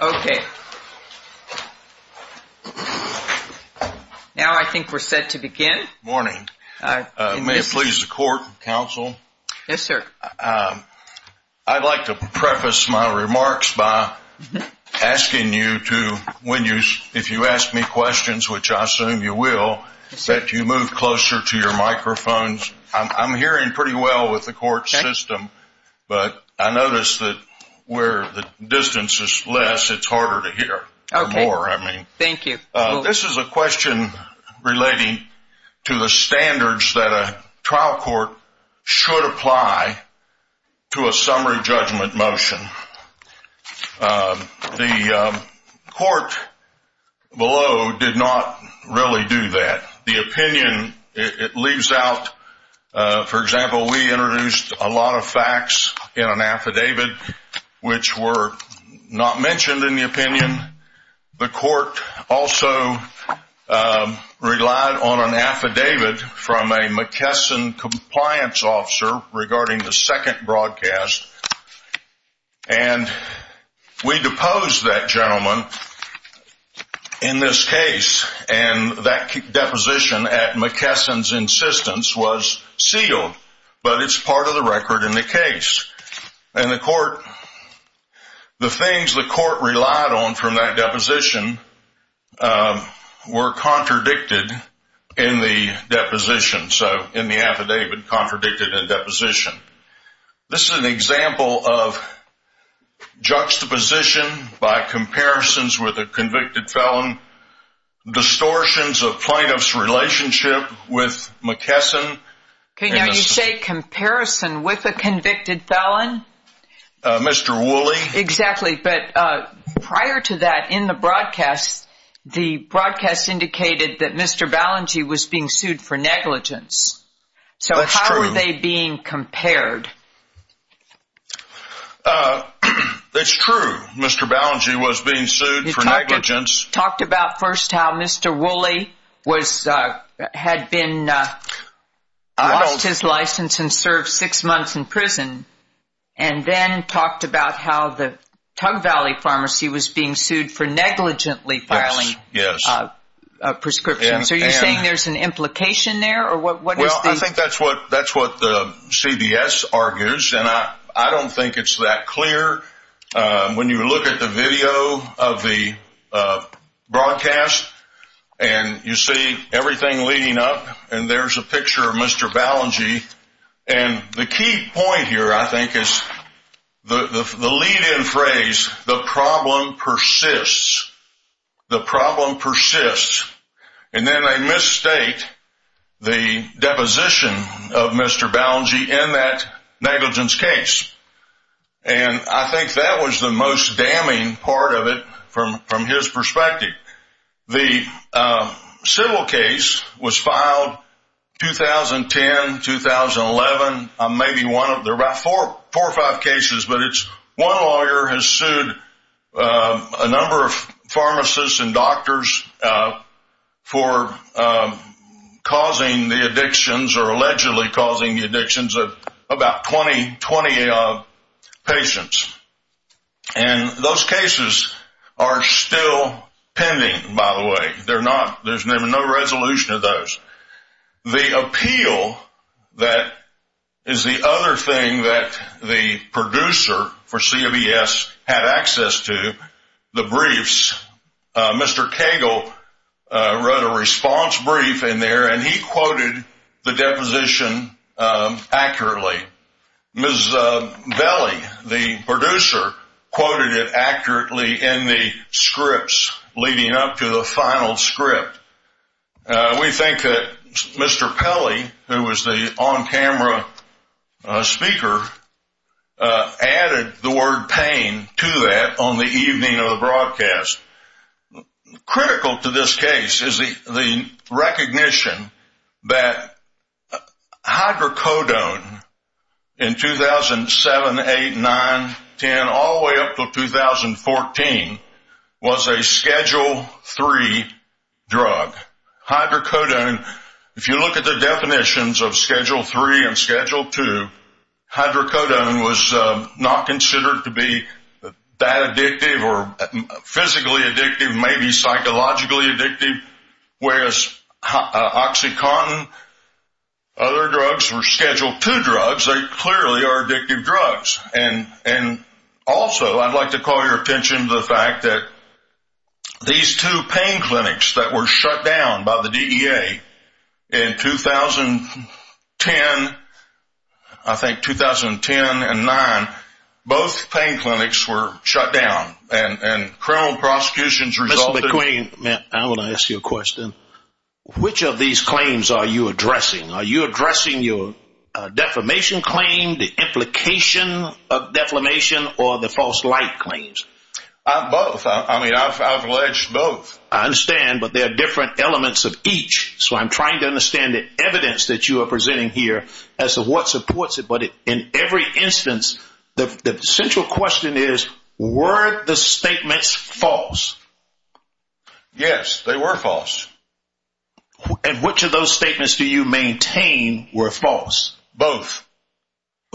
Okay. Now I think we're set to begin. Morning. May it please the court, counsel? Yes, sir. I'd like to preface my remarks by asking you to, if you ask me questions, which I assume you will, that you move closer to your microphones. I'm hearing pretty well with the court system, but I notice that where the distance is less, it's harder to hear. Okay. More, I mean. Thank you. This is a question relating to the standards that a trial court should apply to a summary judgment motion. The court below did not really do that. The opinion, it leaves out, for example, we introduced a lot of facts in an affidavit which were not mentioned in the opinion. The court also relied on an affidavit from a McKesson compliance officer regarding the second broadcast, and we deposed that gentleman in this case, and that deposition at McKesson's insistence was sealed, but it's part of the record in the case. And the court, the things the court relied on from that deposition were contradicted in the deposition, so in the affidavit, contradicted in deposition. This is an example of juxtaposition by comparisons with a convicted felon, distortions of plaintiff's relationship with McKesson. Okay, now you say comparison with a convicted felon? Mr. Woolley. Exactly, but prior to that, in the broadcast, the broadcast indicated that Mr. Balangi was being sued for negligence. That's true. How are they being compared? That's true. Mr. Balangi was being sued for negligence. You talked about first how Mr. Woolley had been, lost his license and served six months in prison, and then talked about how the Tug Valley Pharmacy was being sued for negligently filing prescriptions. Are you saying there's an implication there, or what is the? I think that's what the CBS argues, and I don't think it's that clear. When you look at the video of the broadcast and you see everything leading up, and there's a picture of Mr. Balangi, and the key point here, I think, is the lead-in phrase, the problem persists. The problem persists. And then they misstate the deposition of Mr. Balangi in that negligence case. And I think that was the most damning part of it from his perspective. The civil case was filed 2010, 2011. There are about four or five cases, but one lawyer has sued a number of pharmacists and doctors for causing the addictions or allegedly causing the addictions of about 20 patients. And those cases are still pending, by the way. There's no resolution of those. The appeal, that is the other thing that the producer for CBS had access to, the briefs. Mr. Cagle wrote a response brief in there, and he quoted the deposition accurately. Ms. Belli, the producer, quoted it accurately in the scripts leading up to the final script. We think that Mr. Pelley, who was the on-camera speaker, added the word pain to that on the evening of the broadcast. Critical to this case is the recognition that hydrocodone in 2007, 2008, 2009, 2010, all the way up to 2014, was a Schedule III drug. Hydrocodone, if you look at the definitions of Schedule III and Schedule II, hydrocodone was not considered to be that addictive or physically addictive, maybe psychologically addictive, whereas OxyContin and other drugs were Schedule II drugs. They clearly are addictive drugs. And also, I'd like to call your attention to the fact that these two pain clinics that were shut down by the DEA in 2010, I think 2010 and 2009, both pain clinics were shut down, and criminal prosecutions resulted... Mr. McQueen, I want to ask you a question. Which of these claims are you addressing? Are you addressing your defamation claim, the implication of defamation, or the false light claims? Both. I mean, I've alleged both. I understand, but there are different elements of each. So I'm trying to understand the evidence that you are presenting here as to what supports it. But in every instance, the central question is, were the statements false? Yes, they were false. And which of those statements do you maintain were false? Both.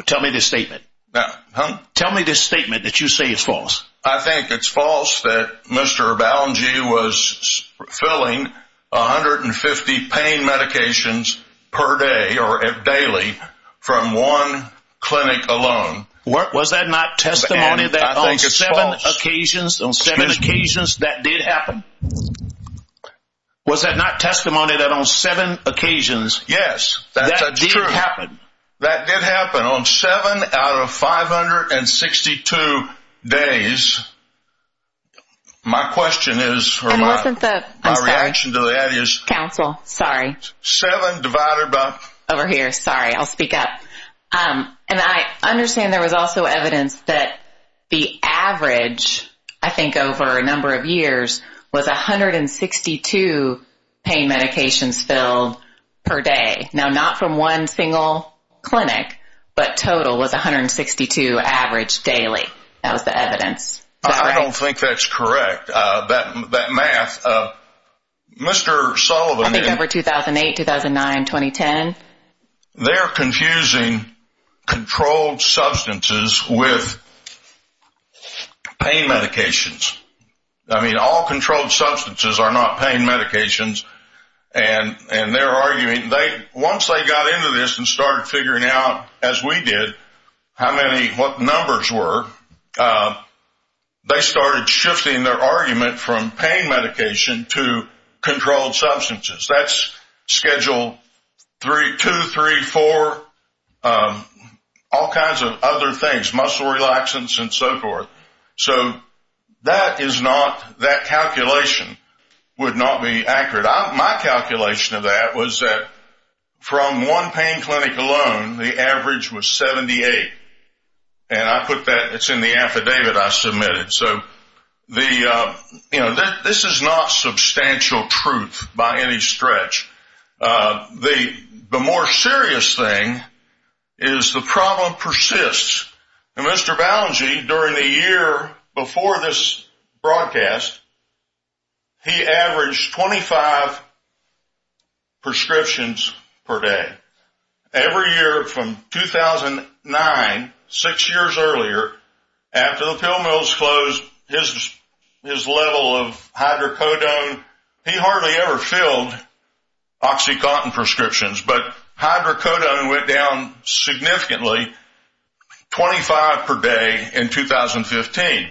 Tell me this statement. Huh? Tell me this statement that you say is false. I think it's false that Mr. Balengie was filling 150 pain medications per day or daily from one clinic alone. Was that not testimony that on seven occasions that did happen? Was that not testimony that on seven occasions that did happen? Yes, that's true. That did happen. And on seven out of 562 days, my question is, or my reaction to that is. Counsel, sorry. Seven divided by. Over here, sorry. I'll speak up. And I understand there was also evidence that the average, I think over a number of years, was 162 pain medications filled per day. Now, not from one single clinic, but total was 162 average daily. That was the evidence. I don't think that's correct. That math, Mr. Sullivan. I think over 2008, 2009, 2010. They're confusing controlled substances with pain medications. I mean, all controlled substances are not pain medications. And they're arguing. Once they got into this and started figuring out, as we did, how many, what numbers were, they started shifting their argument from pain medication to controlled substances. That's Schedule 2, 3, 4, all kinds of other things, muscle relaxants and so forth. So that is not, that calculation would not be accurate. My calculation of that was that from one pain clinic alone, the average was 78. And I put that, it's in the affidavit I submitted. So the, you know, this is not substantial truth by any stretch. The more serious thing is the problem persists. And Mr. Balangi, during the year before this broadcast, he averaged 25 prescriptions per day. Every year from 2009, six years earlier, after the pill mills closed, his level of hydrocodone, he hardly ever filled OxyContin prescriptions, but hydrocodone went down significantly. Twenty-five per day in 2015.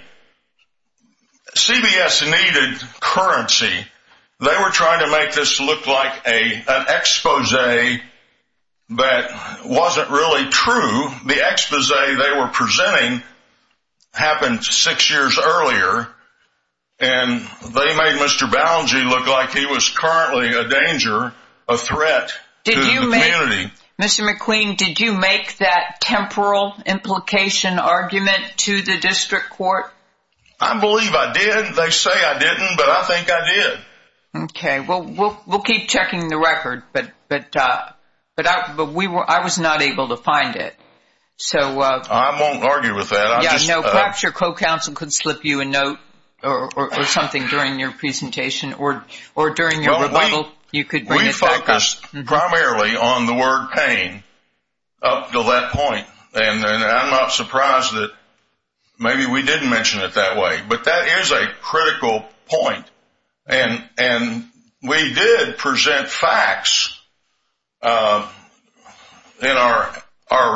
CBS needed currency. They were trying to make this look like an exposé that wasn't really true. The exposé they were presenting happened six years earlier, and they made Mr. Balangi look like he was currently a danger, a threat to the community. Mr. McQueen, did you make that temporal implication argument to the district court? I believe I did. They say I didn't, but I think I did. Okay. Well, we'll keep checking the record, but I was not able to find it. I won't argue with that. Perhaps your co-counsel could slip you a note or something during your presentation or during your rebuttal. We focused primarily on the word pain up until that point, and I'm not surprised that maybe we didn't mention it that way, but that is a critical point, and we did present facts in our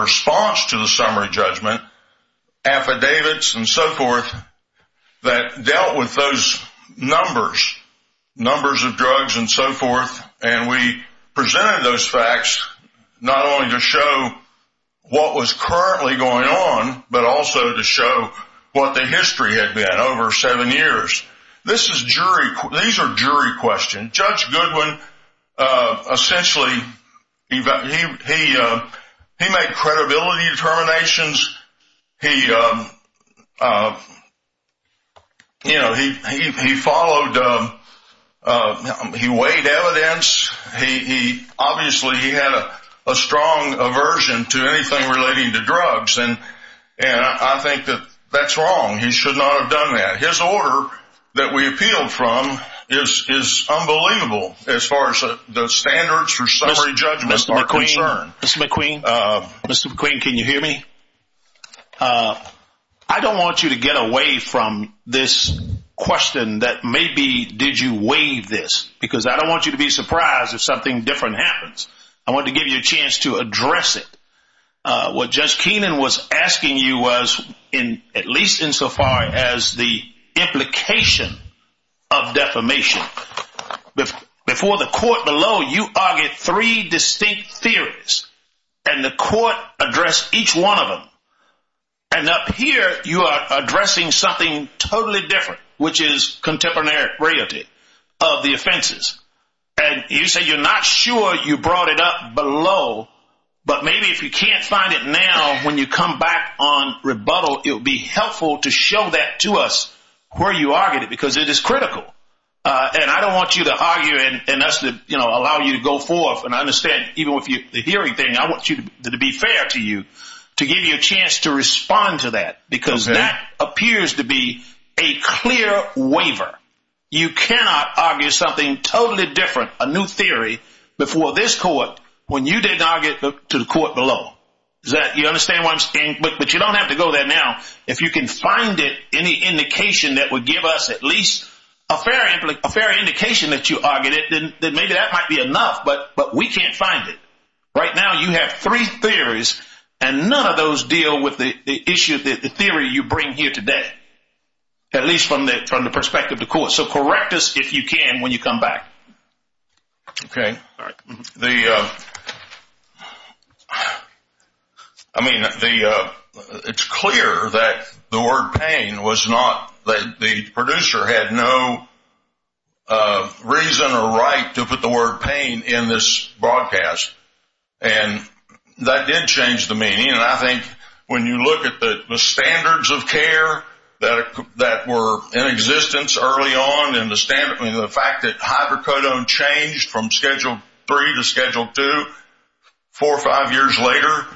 response to the summary judgment, affidavits and so forth, that dealt with those numbers, numbers of drugs and so forth, and we presented those facts not only to show what was currently going on, but also to show what the history had been over seven years. These are jury questions. Judge Goodwin essentially made credibility determinations. He followed, he weighed evidence. Obviously, he had a strong aversion to anything relating to drugs, and I think that that's wrong. He should not have done that. His order that we appealed from is unbelievable as far as the standards for summary judgments are concerned. Mr. McQueen, Mr. McQueen, can you hear me? I don't want you to get away from this question that maybe did you weigh this, because I don't want you to be surprised if something different happens. I want to give you a chance to address it. What Judge Keenan was asking you was, at least insofar as the implication of defamation, before the court below, you argued three distinct theories, and the court addressed each one of them. Up here, you are addressing something totally different, which is contemporary reality of the offenses. You say you're not sure you brought it up below, but maybe if you can't find it now when you come back on rebuttal, it would be helpful to show that to us where you argued it, because it is critical. And I don't want you to argue, and that's to allow you to go forth. And I understand, even with the hearing thing, I want it to be fair to you, to give you a chance to respond to that, because that appears to be a clear waiver. You cannot argue something totally different, a new theory, before this court when you didn't argue it to the court below. You understand what I'm saying? But you don't have to go there now. If you can find it, any indication that would give us at least a fair indication that you argued it, then maybe that might be enough, but we can't find it. Right now, you have three theories, and none of those deal with the theory you bring here today, at least from the perspective of the court. So correct us if you can when you come back. Okay. I mean, it's clear that the word pain was not the producer had no reason or right to put the word pain in this broadcast, and that did change the meaning. And I think when you look at the standards of care that were in existence early on and the fact that hydrocodone changed from Schedule III to Schedule II four or five years later,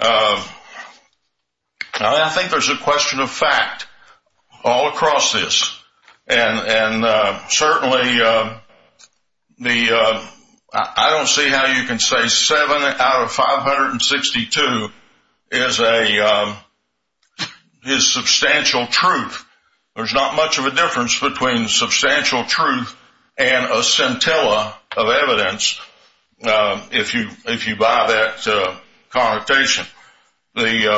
I think there's a question of fact all across this. And certainly, I don't see how you can say seven out of 562 is substantial truth. There's not much of a difference between substantial truth and a scintilla of evidence, if you buy that connotation. Then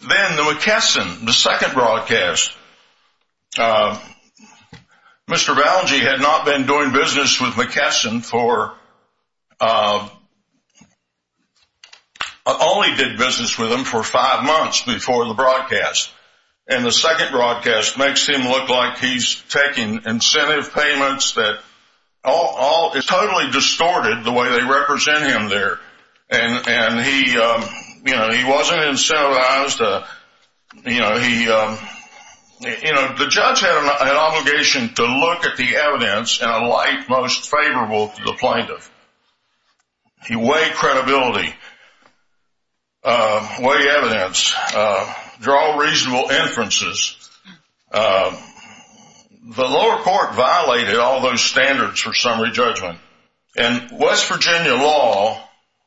the McKesson, the second broadcast, Mr. Balaji had not been doing business with McKesson for, only did business with him for five months before the broadcast. And the second broadcast makes him look like he's taking incentive payments that is totally distorted the way they represent him there. And he wasn't incentivized. The judge had an obligation to look at the evidence in a light most favorable to the plaintiff. He weighed credibility, weighed evidence, draw reasonable inferences. The lower court violated all those standards for summary judgment. And West Virginia law,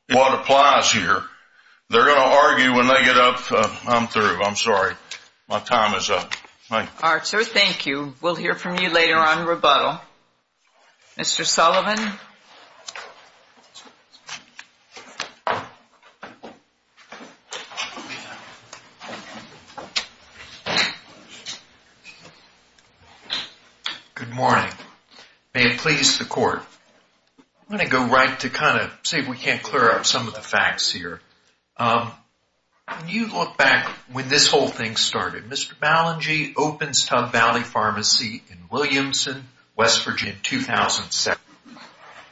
what applies here, they're going to argue when they get up. I'm through. I'm sorry. My time is up. Thank you. All right, sir. Thank you. We'll hear from you later on in rebuttal. Mr. Sullivan. Good morning. May it please the court. I'm going to go right to kind of see if we can't clear up some of the facts here. When you look back when this whole thing started, Mr. Ballengy opens Tub Valley Pharmacy in Williamson, West Virginia in 2007.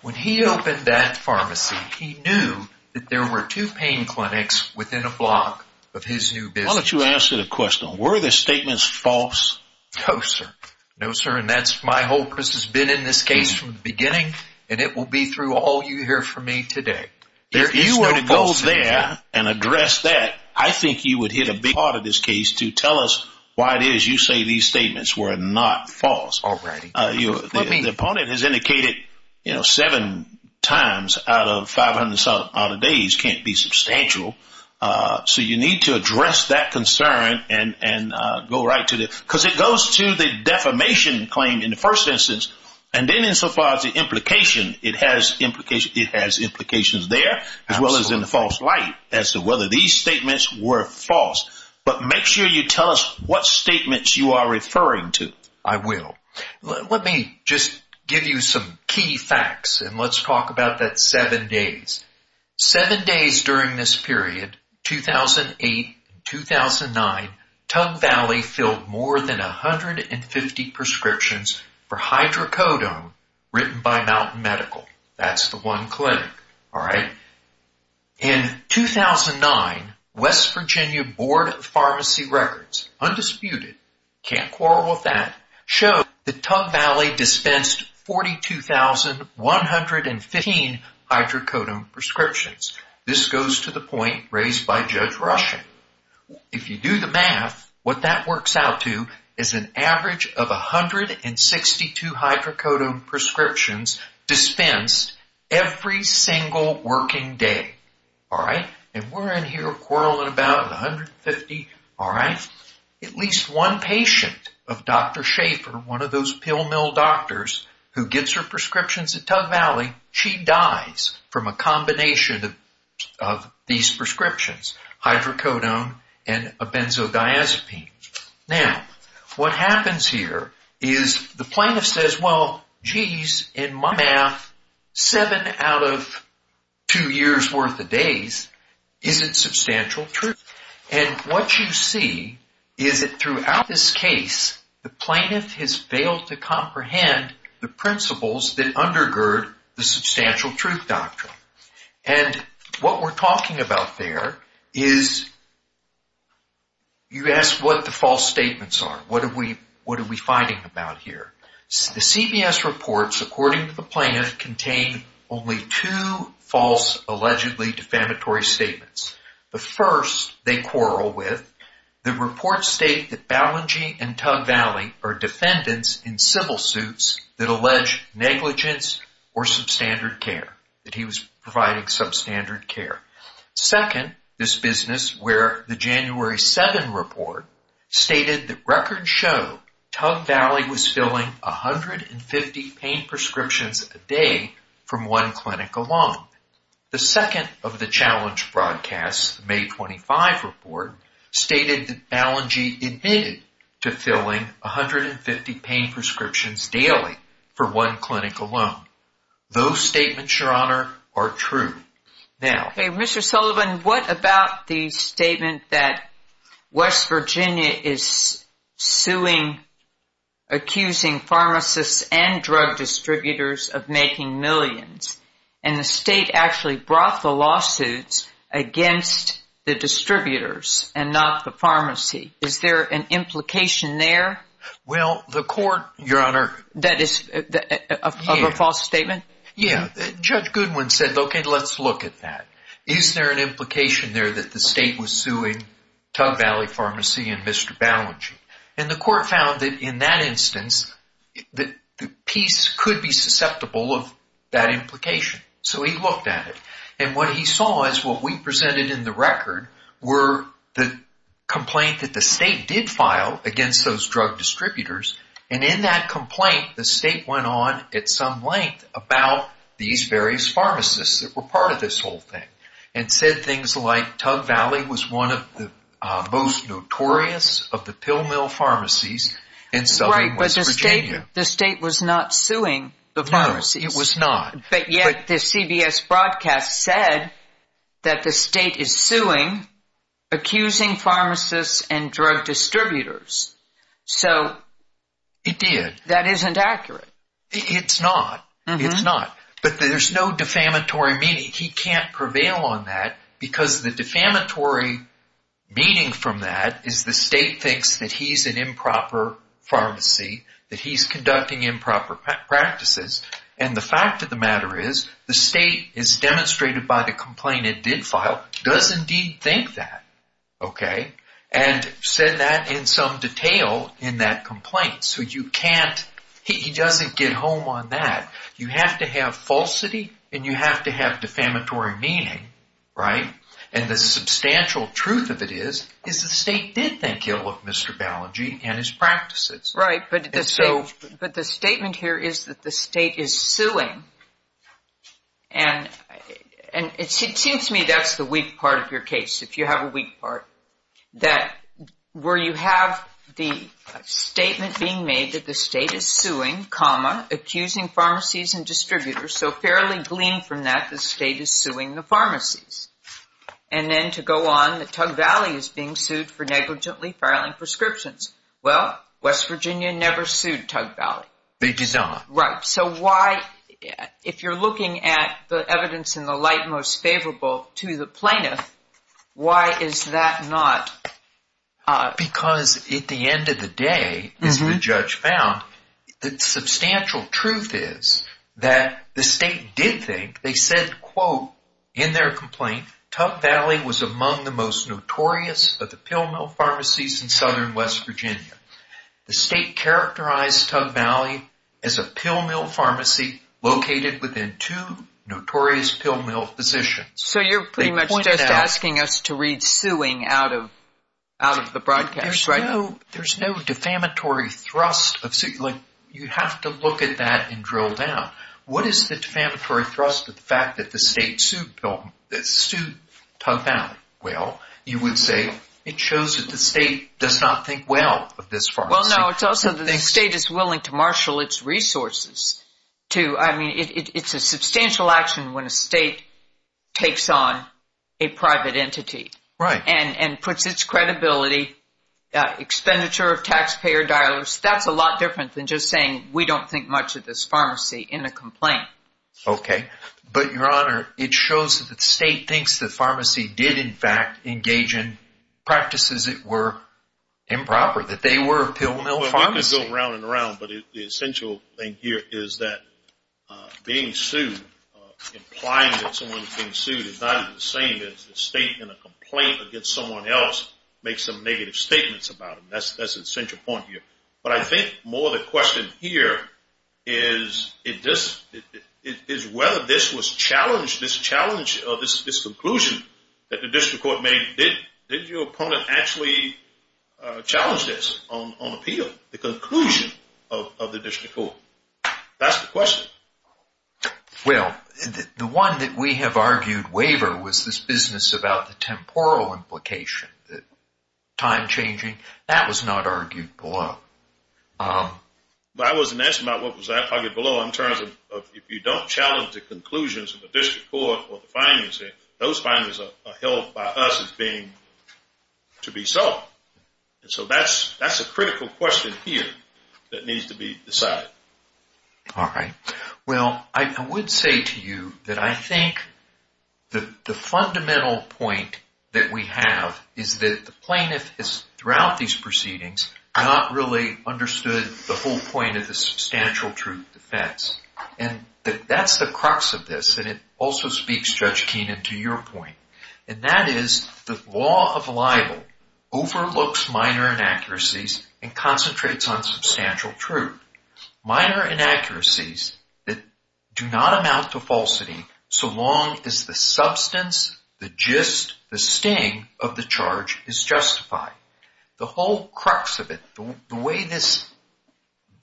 When he opened that pharmacy, he knew that there were two pain clinics within a block of his new business. Why don't you answer the question. Were the statements false? No, sir. No, sir. And that's my hope. This has been in this case from the beginning. And it will be through all you hear from me today. If you were to go there and address that, I think you would hit a big part of this case to tell us why it is you say these statements were not false. All right. The opponent has indicated seven times out of 500 days can't be substantial. So you need to address that concern and go right to it. Because it goes to the defamation claim in the first instance. And then insofar as the implication, it has implications there as well as in the false light as to whether these statements were false. But make sure you tell us what statements you are referring to. I will. Let me just give you some key facts. And let's talk about that seven days. Seven days during this period, 2008 and 2009, Tug Valley filled more than 150 prescriptions for hydrocodone written by Mountain Medical. That's the one clinic. All right. In 2009, West Virginia Board of Pharmacy Records, undisputed, can't quarrel with that, showed that Tug Valley dispensed 42,115 hydrocodone prescriptions. This goes to the point raised by Judge Rushing. If you do the math, what that works out to is an average of 162 hydrocodone prescriptions dispensed every single working day. All right. And we're in here quarreling about 150. All right. At least one patient of Dr. Schaefer, one of those pill mill doctors who gets her prescriptions at Tug Valley, she dies from a combination of these prescriptions, hydrocodone and a benzodiazepine. Now, what happens here is the plaintiff says, well, geez, in my math, seven out of two years' worth of days isn't substantial truth. And what you see is that throughout this case, the plaintiff has failed to comprehend the principles that undergird the substantial truth doctrine. And what we're talking about there is you ask what the false statements are. What are we fighting about here? The CBS reports, according to the plaintiff, contain only two false, allegedly defamatory statements. The first they quarrel with. The reports state that Ballengy and Tug Valley are defendants in civil suits that allege negligence or substandard care, that he was providing substandard care. Second, this business where the January 7 report stated that records show Tug Valley was filling 150 pain prescriptions a day from one clinic alone. The second of the challenge broadcasts, the May 25 report, stated that Ballengy admitted to filling 150 pain prescriptions daily for one clinic alone. Those statements, Your Honor, are true. Okay, Mr. Sullivan, what about the statement that West Virginia is suing, accusing pharmacists and drug distributors of making millions? And the state actually brought the lawsuits against the distributors and not the pharmacy. Is there an implication there? Well, the court, Your Honor. That is a false statement? Yeah. Judge Goodwin said, okay, let's look at that. Is there an implication there that the state was suing Tug Valley Pharmacy and Mr. Ballengy? And the court found that in that instance, the piece could be susceptible of that implication. So he looked at it. And what he saw is what we presented in the record were the complaint that the state did file against those drug distributors. And in that complaint, the state went on at some length about these various pharmacists that were part of this whole thing. And said things like Tug Valley was one of the most notorious of the pill mill pharmacies in southern West Virginia. Right, but the state was not suing the pharmacies. No, it was not. But yet the CBS broadcast said that the state is suing, accusing pharmacists and drug distributors. So. It did. That isn't accurate. It's not. It's not. But there's no defamatory meaning. He can't prevail on that because the defamatory meaning from that is the state thinks that he's an improper pharmacy, that he's conducting improper practices. And the fact of the matter is the state is demonstrated by the complaint it did file does indeed think that. Okay. And said that in some detail in that complaint. So you can't. He doesn't get home on that. You have to have falsity and you have to have defamatory meaning. Right. And the substantial truth of it is, is the state did think ill of Mr. Balanji and his practices. Right. But the statement here is that the state is suing. And it seems to me that's the weak part of your case. If you have a weak part, that where you have the statement being made that the state is suing, comma, accusing pharmacies and distributors. So fairly glean from that, the state is suing the pharmacies. And then to go on, the Tug Valley is being sued for negligently filing prescriptions. Well, West Virginia never sued Tug Valley. They did not. Right. So why, if you're looking at the evidence in the light most favorable to the plaintiff, why is that not? Because at the end of the day, as the judge found, the substantial truth is that the state did think, they said, quote, in their complaint, Tug Valley was among the most notorious of the pill mill pharmacies in southern West Virginia. The state characterized Tug Valley as a pill mill pharmacy located within two notorious pill mill positions. So you're pretty much just asking us to read suing out of the broadcast, right? There's no defamatory thrust of suing. You have to look at that and drill down. What is the defamatory thrust of the fact that the state sued Tug Valley? Well, you would say it shows that the state does not think well of this pharmacy. Well, no, it's also that the state is willing to marshal its resources to, I mean, it's a substantial action when a state takes on a private entity. Right. And puts its credibility, expenditure of taxpayer dollars. That's a lot different than just saying we don't think much of this pharmacy in a complaint. Okay. But, Your Honor, it shows that the state thinks the pharmacy did, in fact, engage in practices that were improper, that they were a pill mill pharmacy. Well, we could go around and around, but the essential thing here is that being sued, implying that someone is being sued is not even the same as the state in a complaint against someone else makes some negative statements about them. That's an essential point here. But I think more the question here is whether this was challenged, this challenge or this conclusion that the district court made, did your opponent actually challenge this on appeal, the conclusion of the district court? That's the question. Well, the one that we have argued waiver was this business about the temporal implication, the time changing. That was not argued below. I wasn't asking about what was argued below in terms of if you don't challenge the conclusions of the district court or the findings there, those findings are held by us as being to be so. And so that's a critical question here that needs to be decided. All right. Well, I would say to you that I think the fundamental point that we have is that the plaintiff has, throughout these proceedings, not really understood the whole point of the substantial truth defense. And that's the crux of this, and it also speaks, Judge Keenan, to your point. And that is the law of libel overlooks minor inaccuracies and concentrates on substantial truth. Minor inaccuracies that do not amount to falsity so long as the substance, the gist, the sting of the charge is justified. The whole crux of it, the way this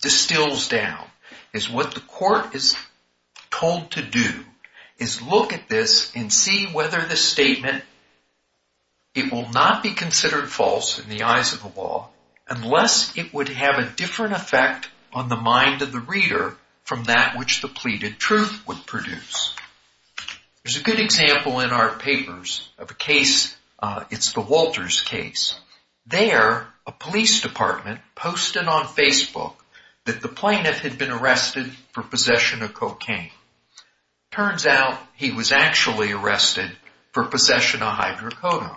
distills down is what the court is told to do is look at this and see whether the statement, it will not be considered false in the eyes of the law unless it would have a different effect on the mind of the reader from that which the pleaded truth would produce. There's a good example in our papers of a case, it's the Walters case. There, a police department posted on Facebook that the plaintiff had been arrested for possession of cocaine. Turns out he was actually arrested for possession of hydrocodone.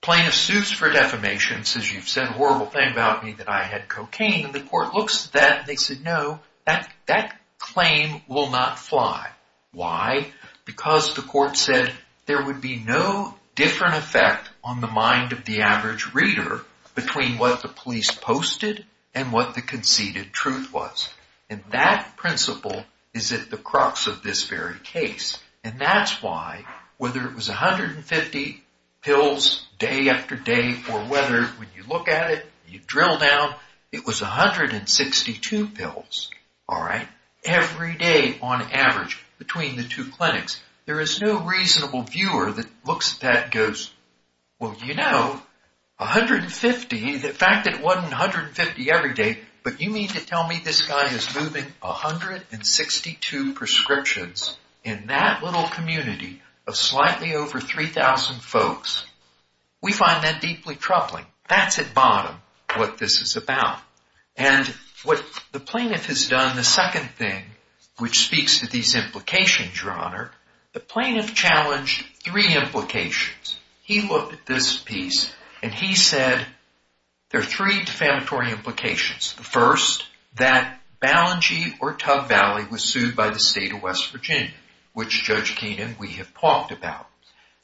Plaintiff sues for defamation, says you've said a horrible thing about me that I had cocaine. The court looks at that and says no, that claim will not fly. Why? Because the court said there would be no different effect on the mind of the average reader between what the police posted and what the conceded truth was. And that principle is at the crux of this very case. And that's why, whether it was 150 pills day after day, or whether, when you look at it, you drill down, it was 162 pills, all right, every day on average between the two clinics. There is no reasonable viewer that looks at that and goes, well, you know, 150, the fact that it wasn't 150 every day, but you mean to tell me this guy is moving 162 prescriptions in that little community of slightly over 3,000 folks? We find that deeply troubling. That's at bottom what this is about. And what the plaintiff has done, the second thing, which speaks to these implications, Your Honor, the plaintiff challenged three implications. He looked at this piece and he said there are three defamatory implications. The first, that Ballengee or Tub Valley was sued by the state of West Virginia, which Judge Keenan, we have talked about.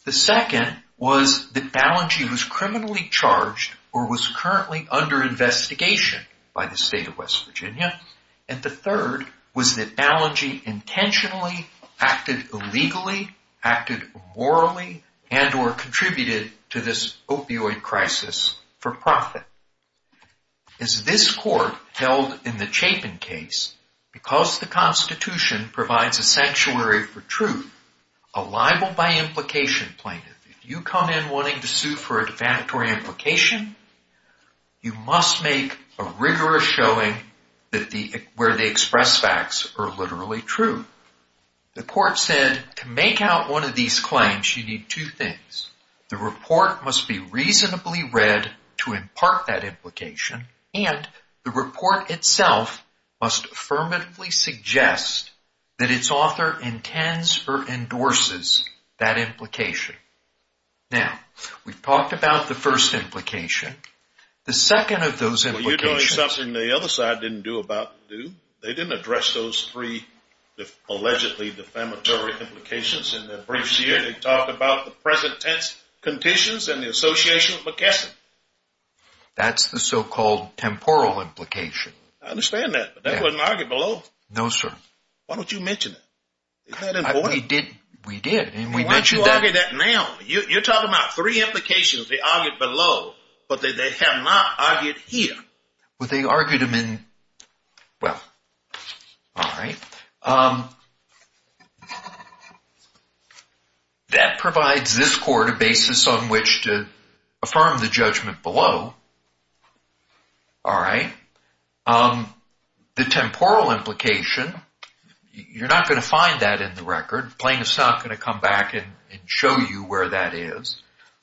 The second was that Ballengee was criminally charged or was currently under investigation by the state of West Virginia. And the third was that Ballengee intentionally acted illegally, acted immorally, and or contributed to this opioid crisis for profit. As this court held in the Chapin case, because the Constitution provides a sanctuary for truth, a libel by implication plaintiff, if you come in wanting to sue for a defamatory implication, you must make a rigorous showing where the express facts are literally true. The court said to make out one of these claims, you need two things. The report must be reasonably read to impart that implication and the report itself must affirmatively suggest that its author intends or endorses that implication. Now, we've talked about the first implication. The second of those implications. Well, you're doing something the other side didn't do about to do. They didn't address those three allegedly defamatory implications in their briefs here. They talked about the present tense conditions and the association of McKesson. That's the so-called temporal implication. I understand that, but that wasn't argued below. No, sir. Why don't you mention it? We did. Why don't you argue that now? You're talking about three implications they argued below, but they have not argued here. Well, all right. That provides this court a basis on which to affirm the judgment below. All right. The temporal implication, you're not going to find that in the record. Plaintiff's not going to come back and show you where that is.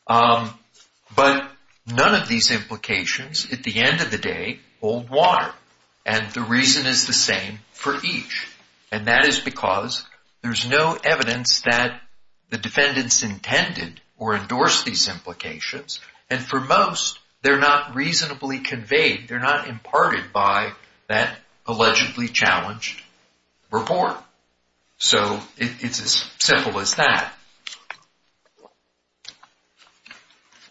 But none of these implications, at the end of the day, hold water. And the reason is the same for each. And that is because there's no evidence that the defendants intended or endorsed these implications. And for most, they're not reasonably conveyed. They're not imparted by that allegedly challenged report. So it's as simple as that.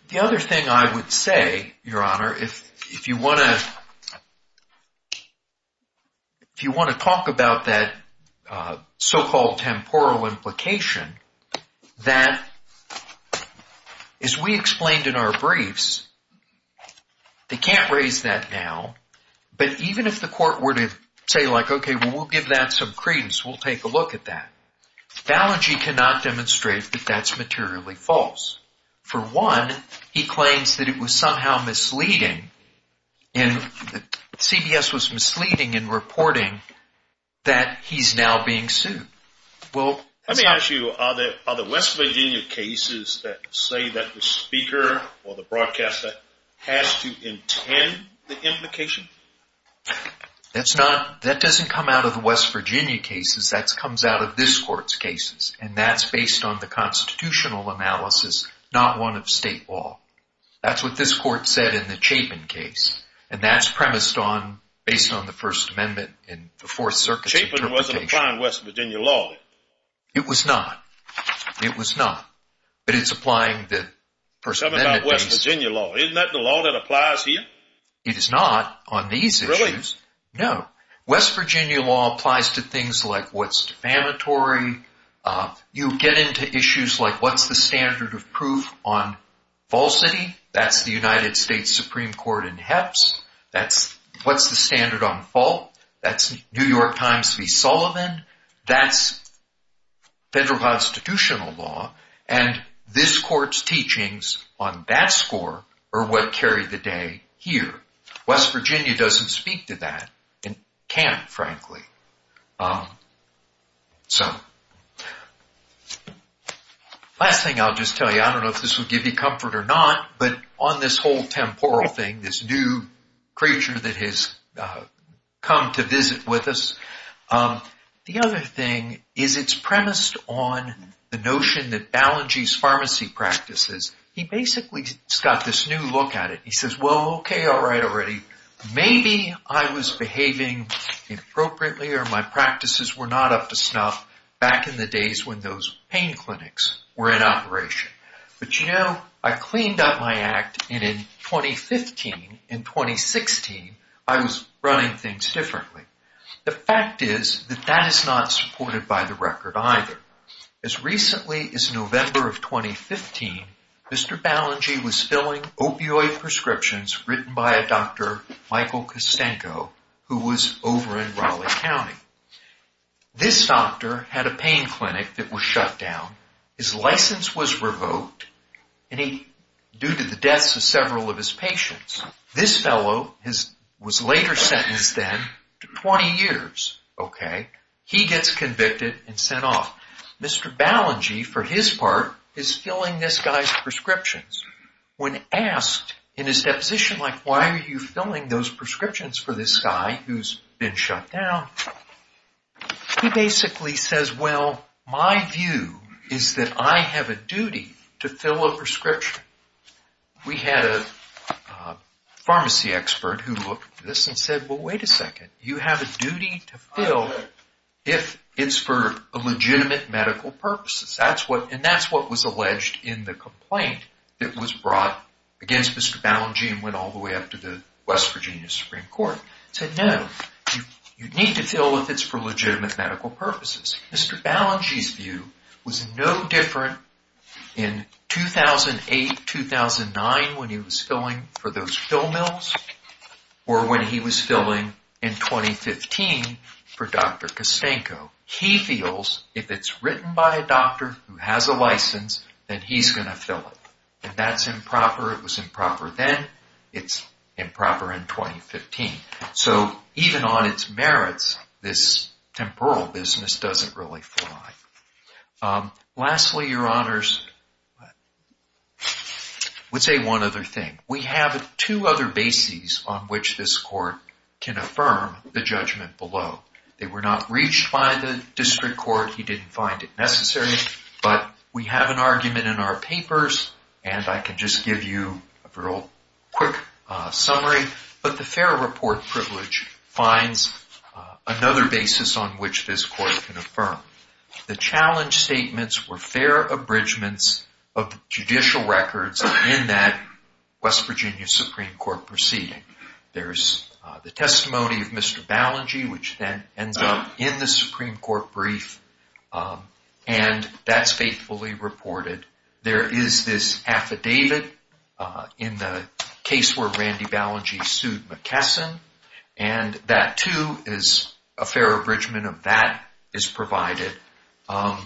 The other thing I would say, Your Honor, if you want to talk about that so-called temporal implication, that as we explained in our briefs, they can't raise that now. But even if the court were to say, like, okay, well, we'll give that some credence. We'll take a look at that. Fallon G. cannot demonstrate that that's materially false. For one, he claims that it was somehow misleading and CBS was misleading in reporting that he's now being sued. Let me ask you, are the West Virginia cases that say that the speaker or the broadcaster has to intend the implication? That doesn't come out of the West Virginia cases. That comes out of this court's cases. And that's based on the constitutional analysis, not one of state law. That's what this court said in the Chapin case. And that's premised on, based on the First Amendment and the Fourth Circuit's interpretation. It wasn't applying West Virginia law. It was not. It was not. But it's applying the First Amendment. Tell me about West Virginia law. Isn't that the law that applies here? It is not on these issues. Really? No. West Virginia law applies to things like what's defamatory. You get into issues like what's the standard of proof on falsity. That's the United States Supreme Court in Hepps. That's what's the standard on fault. That's New York Times v. Sullivan. That's federal constitutional law. And this court's teachings on that score are what carry the day here. West Virginia doesn't speak to that and can't, frankly. So, last thing I'll just tell you, I don't know if this will give you comfort or not, but on this whole temporal thing, this new creature that has come to visit with us, the other thing is it's premised on the notion that Balanji's pharmacy practices, he basically has got this new look at it. He says, well, okay, all right already. Maybe I was behaving inappropriately or my practices were not up to snuff back in the days when those pain clinics were in operation. But, you know, I cleaned up my act and in 2015, in 2016, I was running things differently. The fact is that that is not supported by the record either. As recently as November of 2015, Mr. Balanji was filling opioid prescriptions written by a doctor, Michael Kostenko, who was over in Raleigh County. This doctor had a pain clinic that was shut down. His license was revoked due to the deaths of several of his patients. This fellow was later sentenced then to 20 years. He gets convicted and sent off. Mr. Balanji, for his part, is filling this guy's prescriptions. When asked in his deposition, like, why are you filling those prescriptions for this guy who's been shut down, he basically says, well, my view is that I have a duty to fill a prescription. We had a pharmacy expert who looked at this and said, well, wait a second. You have a duty to fill if it's for a legitimate medical purpose. And that's what was alleged in the complaint that was brought against Mr. Balanji and went all the way up to the West Virginia Supreme Court. Said, no, you need to fill if it's for legitimate medical purposes. Mr. Balanji's view was no different in 2008, 2009 when he was filling for those pill mills or when he was filling in 2015 for Dr. Kostenko. He feels if it's written by a doctor who has a license, then he's going to fill it. And that's improper. It was improper then. It's improper in 2015. So even on its merits, this temporal business doesn't really fly. Lastly, your honors, I would say one other thing. We have two other bases on which this court can affirm the judgment below. They were not reached by the district court. He didn't find it necessary. But we have an argument in our papers, and I can just give you a real quick summary. But the fair report privilege finds another basis on which this court can affirm. The challenge statements were fair abridgments of judicial records in that West Virginia Supreme Court proceeding. There's the testimony of Mr. Balanji, which then ends up in the Supreme Court brief. And that's faithfully reported. There is this affidavit in the case where Randy Balanji sued McKesson. And that, too, is a fair abridgment of that is provided. The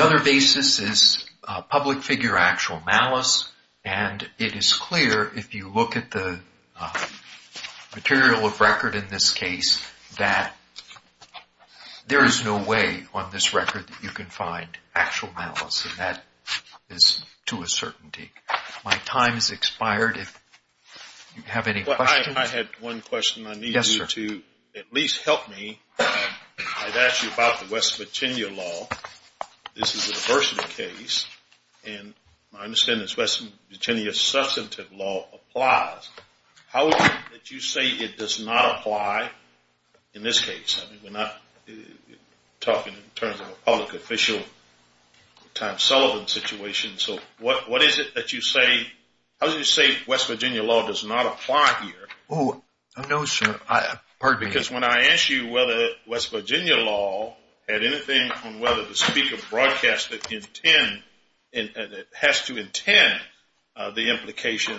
other basis is public figure actual malice. And it is clear, if you look at the material of record in this case, that there is no way on this record that you can find actual malice. And that is to a certainty. My time has expired. If you have any questions. I had one question I need you to at least help me. I'd ask you about the West Virginia law. This is a diversity case. And my understanding is West Virginia substantive law applies. How would you say it does not apply in this case? I mean, we're not talking in terms of a public official time Sullivan situation. So what is it that you say? How do you say West Virginia law does not apply here? Oh, no, sir. Because when I asked you whether West Virginia law had anything on whether the speaker broadcast it has to intend the implication,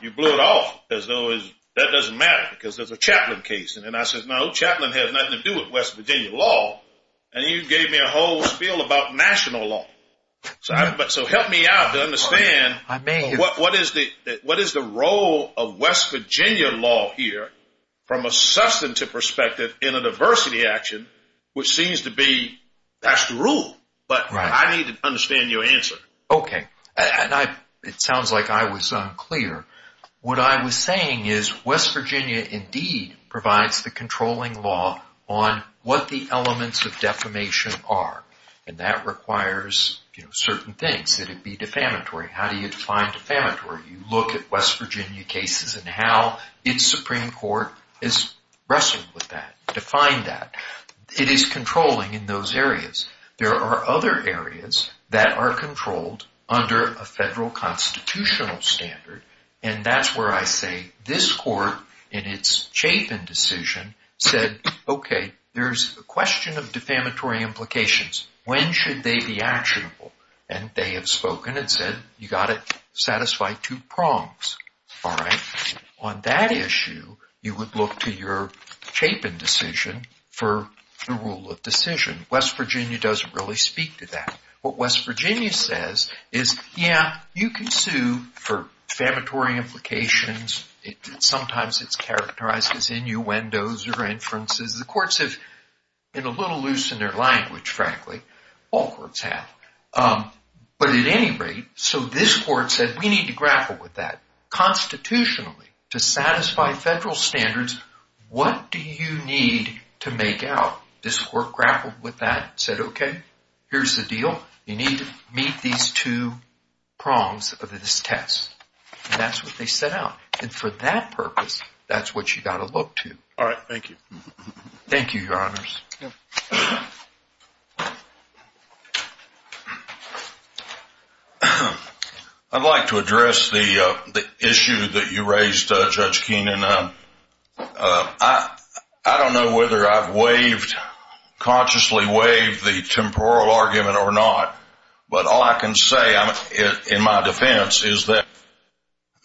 you blew it off. That doesn't matter because there's a chaplain case. And I said, no, chaplain has nothing to do with West Virginia law. And you gave me a whole spiel about national law. So help me out to understand what is the role of West Virginia law here from a substantive perspective in a diversity action, which seems to be that's the rule. But I need to understand your answer. Okay. And it sounds like I was unclear. What I was saying is West Virginia indeed provides the controlling law on what the elements of defamation are. And that requires certain things. Should it be defamatory? How do you define defamatory? You look at West Virginia cases and how its Supreme Court is wrestling with that. Define that. It is controlling in those areas. There are other areas that are controlled under a federal constitutional standard. And that's where I say this court in its chaplain decision said, okay, there's a question of defamatory implications. When should they be actionable? And they have spoken and said you got to satisfy two prongs. All right. On that issue, you would look to your chaplain decision for the rule of decision. West Virginia doesn't really speak to that. What West Virginia says is, yeah, you can sue for defamatory implications. Sometimes it's characterized as innuendos or inferences. The courts have been a little loose in their language, frankly. All courts have. But at any rate, so this court said we need to grapple with that. Constitutionally, to satisfy federal standards, what do you need to make out? This court grappled with that and said, okay, here's the deal. You need to meet these two prongs of this test. And that's what they set out. And for that purpose, that's what you got to look to. All right. Thank you. Thank you, Your Honors. I'd like to address the issue that you raised, Judge Keenan. I don't know whether I've consciously waived the temporal argument or not, but all I can say in my defense is that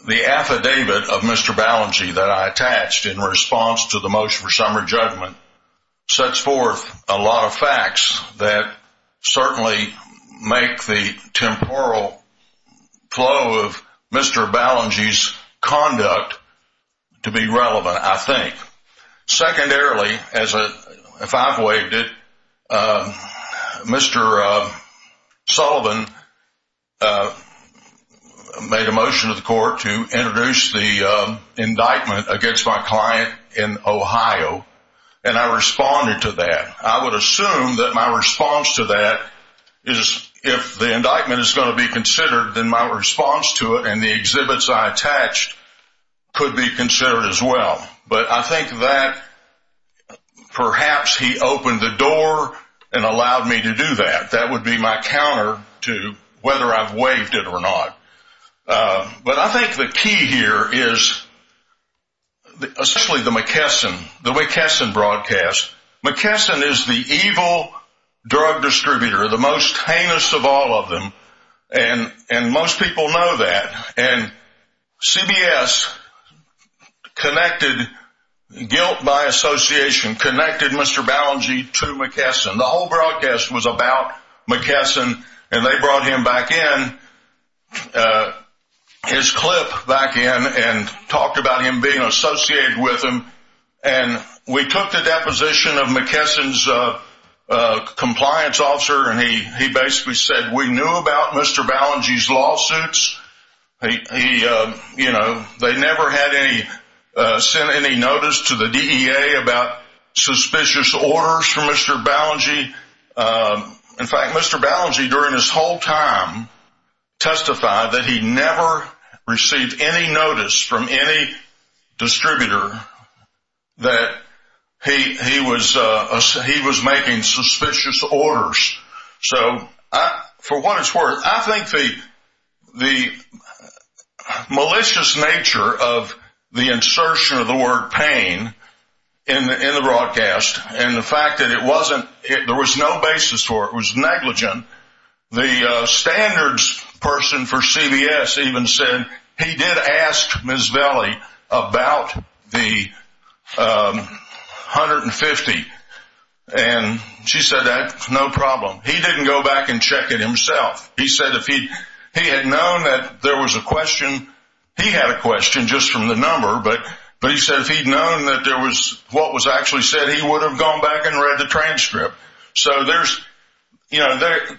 the affidavit of Mr. Balengie that I attached in response to the motion for summary judgment sets forth a lot of facts that certainly make the temporal flow of Mr. Balengie's conduct to be relevant, I think. Secondarily, if I've waived it, Mr. Sullivan made a motion to the court to introduce the indictment against my client in Ohio, and I responded to that. I would assume that my response to that is if the indictment is going to be considered, then my response to it and the exhibits I attached could be considered as well. But I think that perhaps he opened the door and allowed me to do that. That would be my counter to whether I've waived it or not. But I think the key here is especially the McKesson, the way Kesson broadcasts. McKesson is the evil drug distributor, the most heinous of all of them, and most people know that. And CBS connected guilt by association, connected Mr. Balengie to McKesson. The whole broadcast was about McKesson, and they brought him back in, his clip back in, and talked about him being associated with him. And we took the deposition of McKesson's compliance officer, and he basically said, we knew about Mr. Balengie's lawsuits. They never sent any notice to the DEA about suspicious orders from Mr. Balengie. In fact, Mr. Balengie during his whole time testified that he never received any notice from any distributor that he was making suspicious orders. So for what it's worth, I think the malicious nature of the insertion of the word pain in the broadcast and the fact that it wasn't, there was no basis for it, it was negligent. The standards person for CBS even said he did ask Ms. Velie about the 150, and she said that's no problem. He didn't go back and check it himself. He said if he had known that there was a question, he had a question just from the number, but he said if he had known what was actually said, he would have gone back and read the transcript. So they're victimizing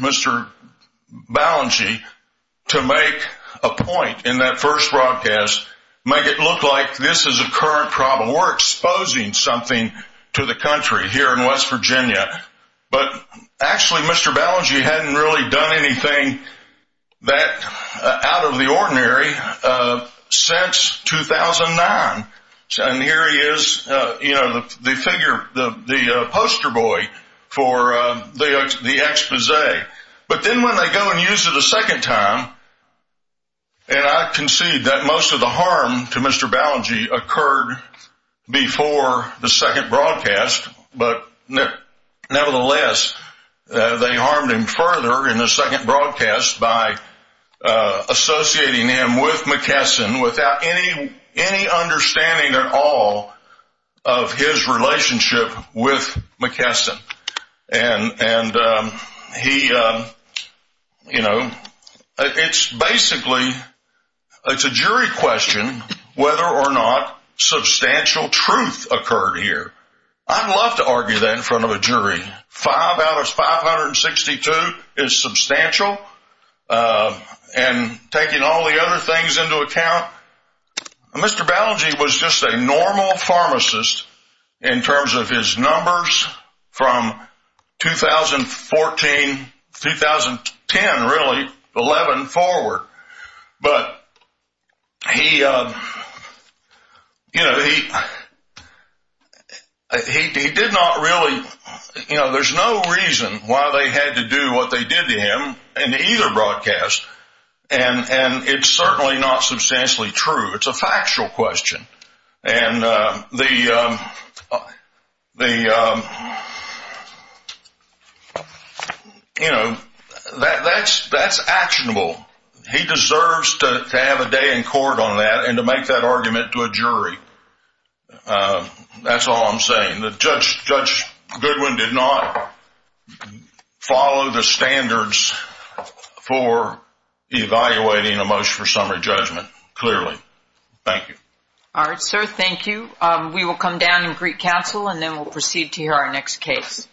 Mr. Balengie to make a point in that first broadcast, make it look like this is a current problem. We're exposing something to the country here in West Virginia. But actually, Mr. Balengie hadn't really done anything that out of the ordinary since 2009. And here he is, the poster boy for the expose. But then when they go and use it a second time, and I concede that most of the harm to Mr. Balengie occurred before the second broadcast, but nevertheless, they harmed him further in the second broadcast by associating him with McKesson without any understanding at all of his relationship with McKesson. And he, you know, it's basically, it's a jury question whether or not substantial truth occurred here. I'd love to argue that in front of a jury. Five out of 562 is substantial. And taking all the other things into account, Mr. Balengie was just a normal pharmacist in terms of his numbers from 2014, 2010 really, 11 forward. But he, you know, he did not really, you know, there's no reason why they had to do what they did to him in either broadcast. And it's certainly not substantially true. It's a factual question. And the, you know, that's actionable. He deserves to have a day in court on that and to make that argument to a jury. That's all I'm saying. Judge Goodwin did not follow the standards for evaluating a motion for summary judgment clearly. Thank you. All right, sir. Thank you. We will come down and greet counsel and then we'll proceed to hear our next case.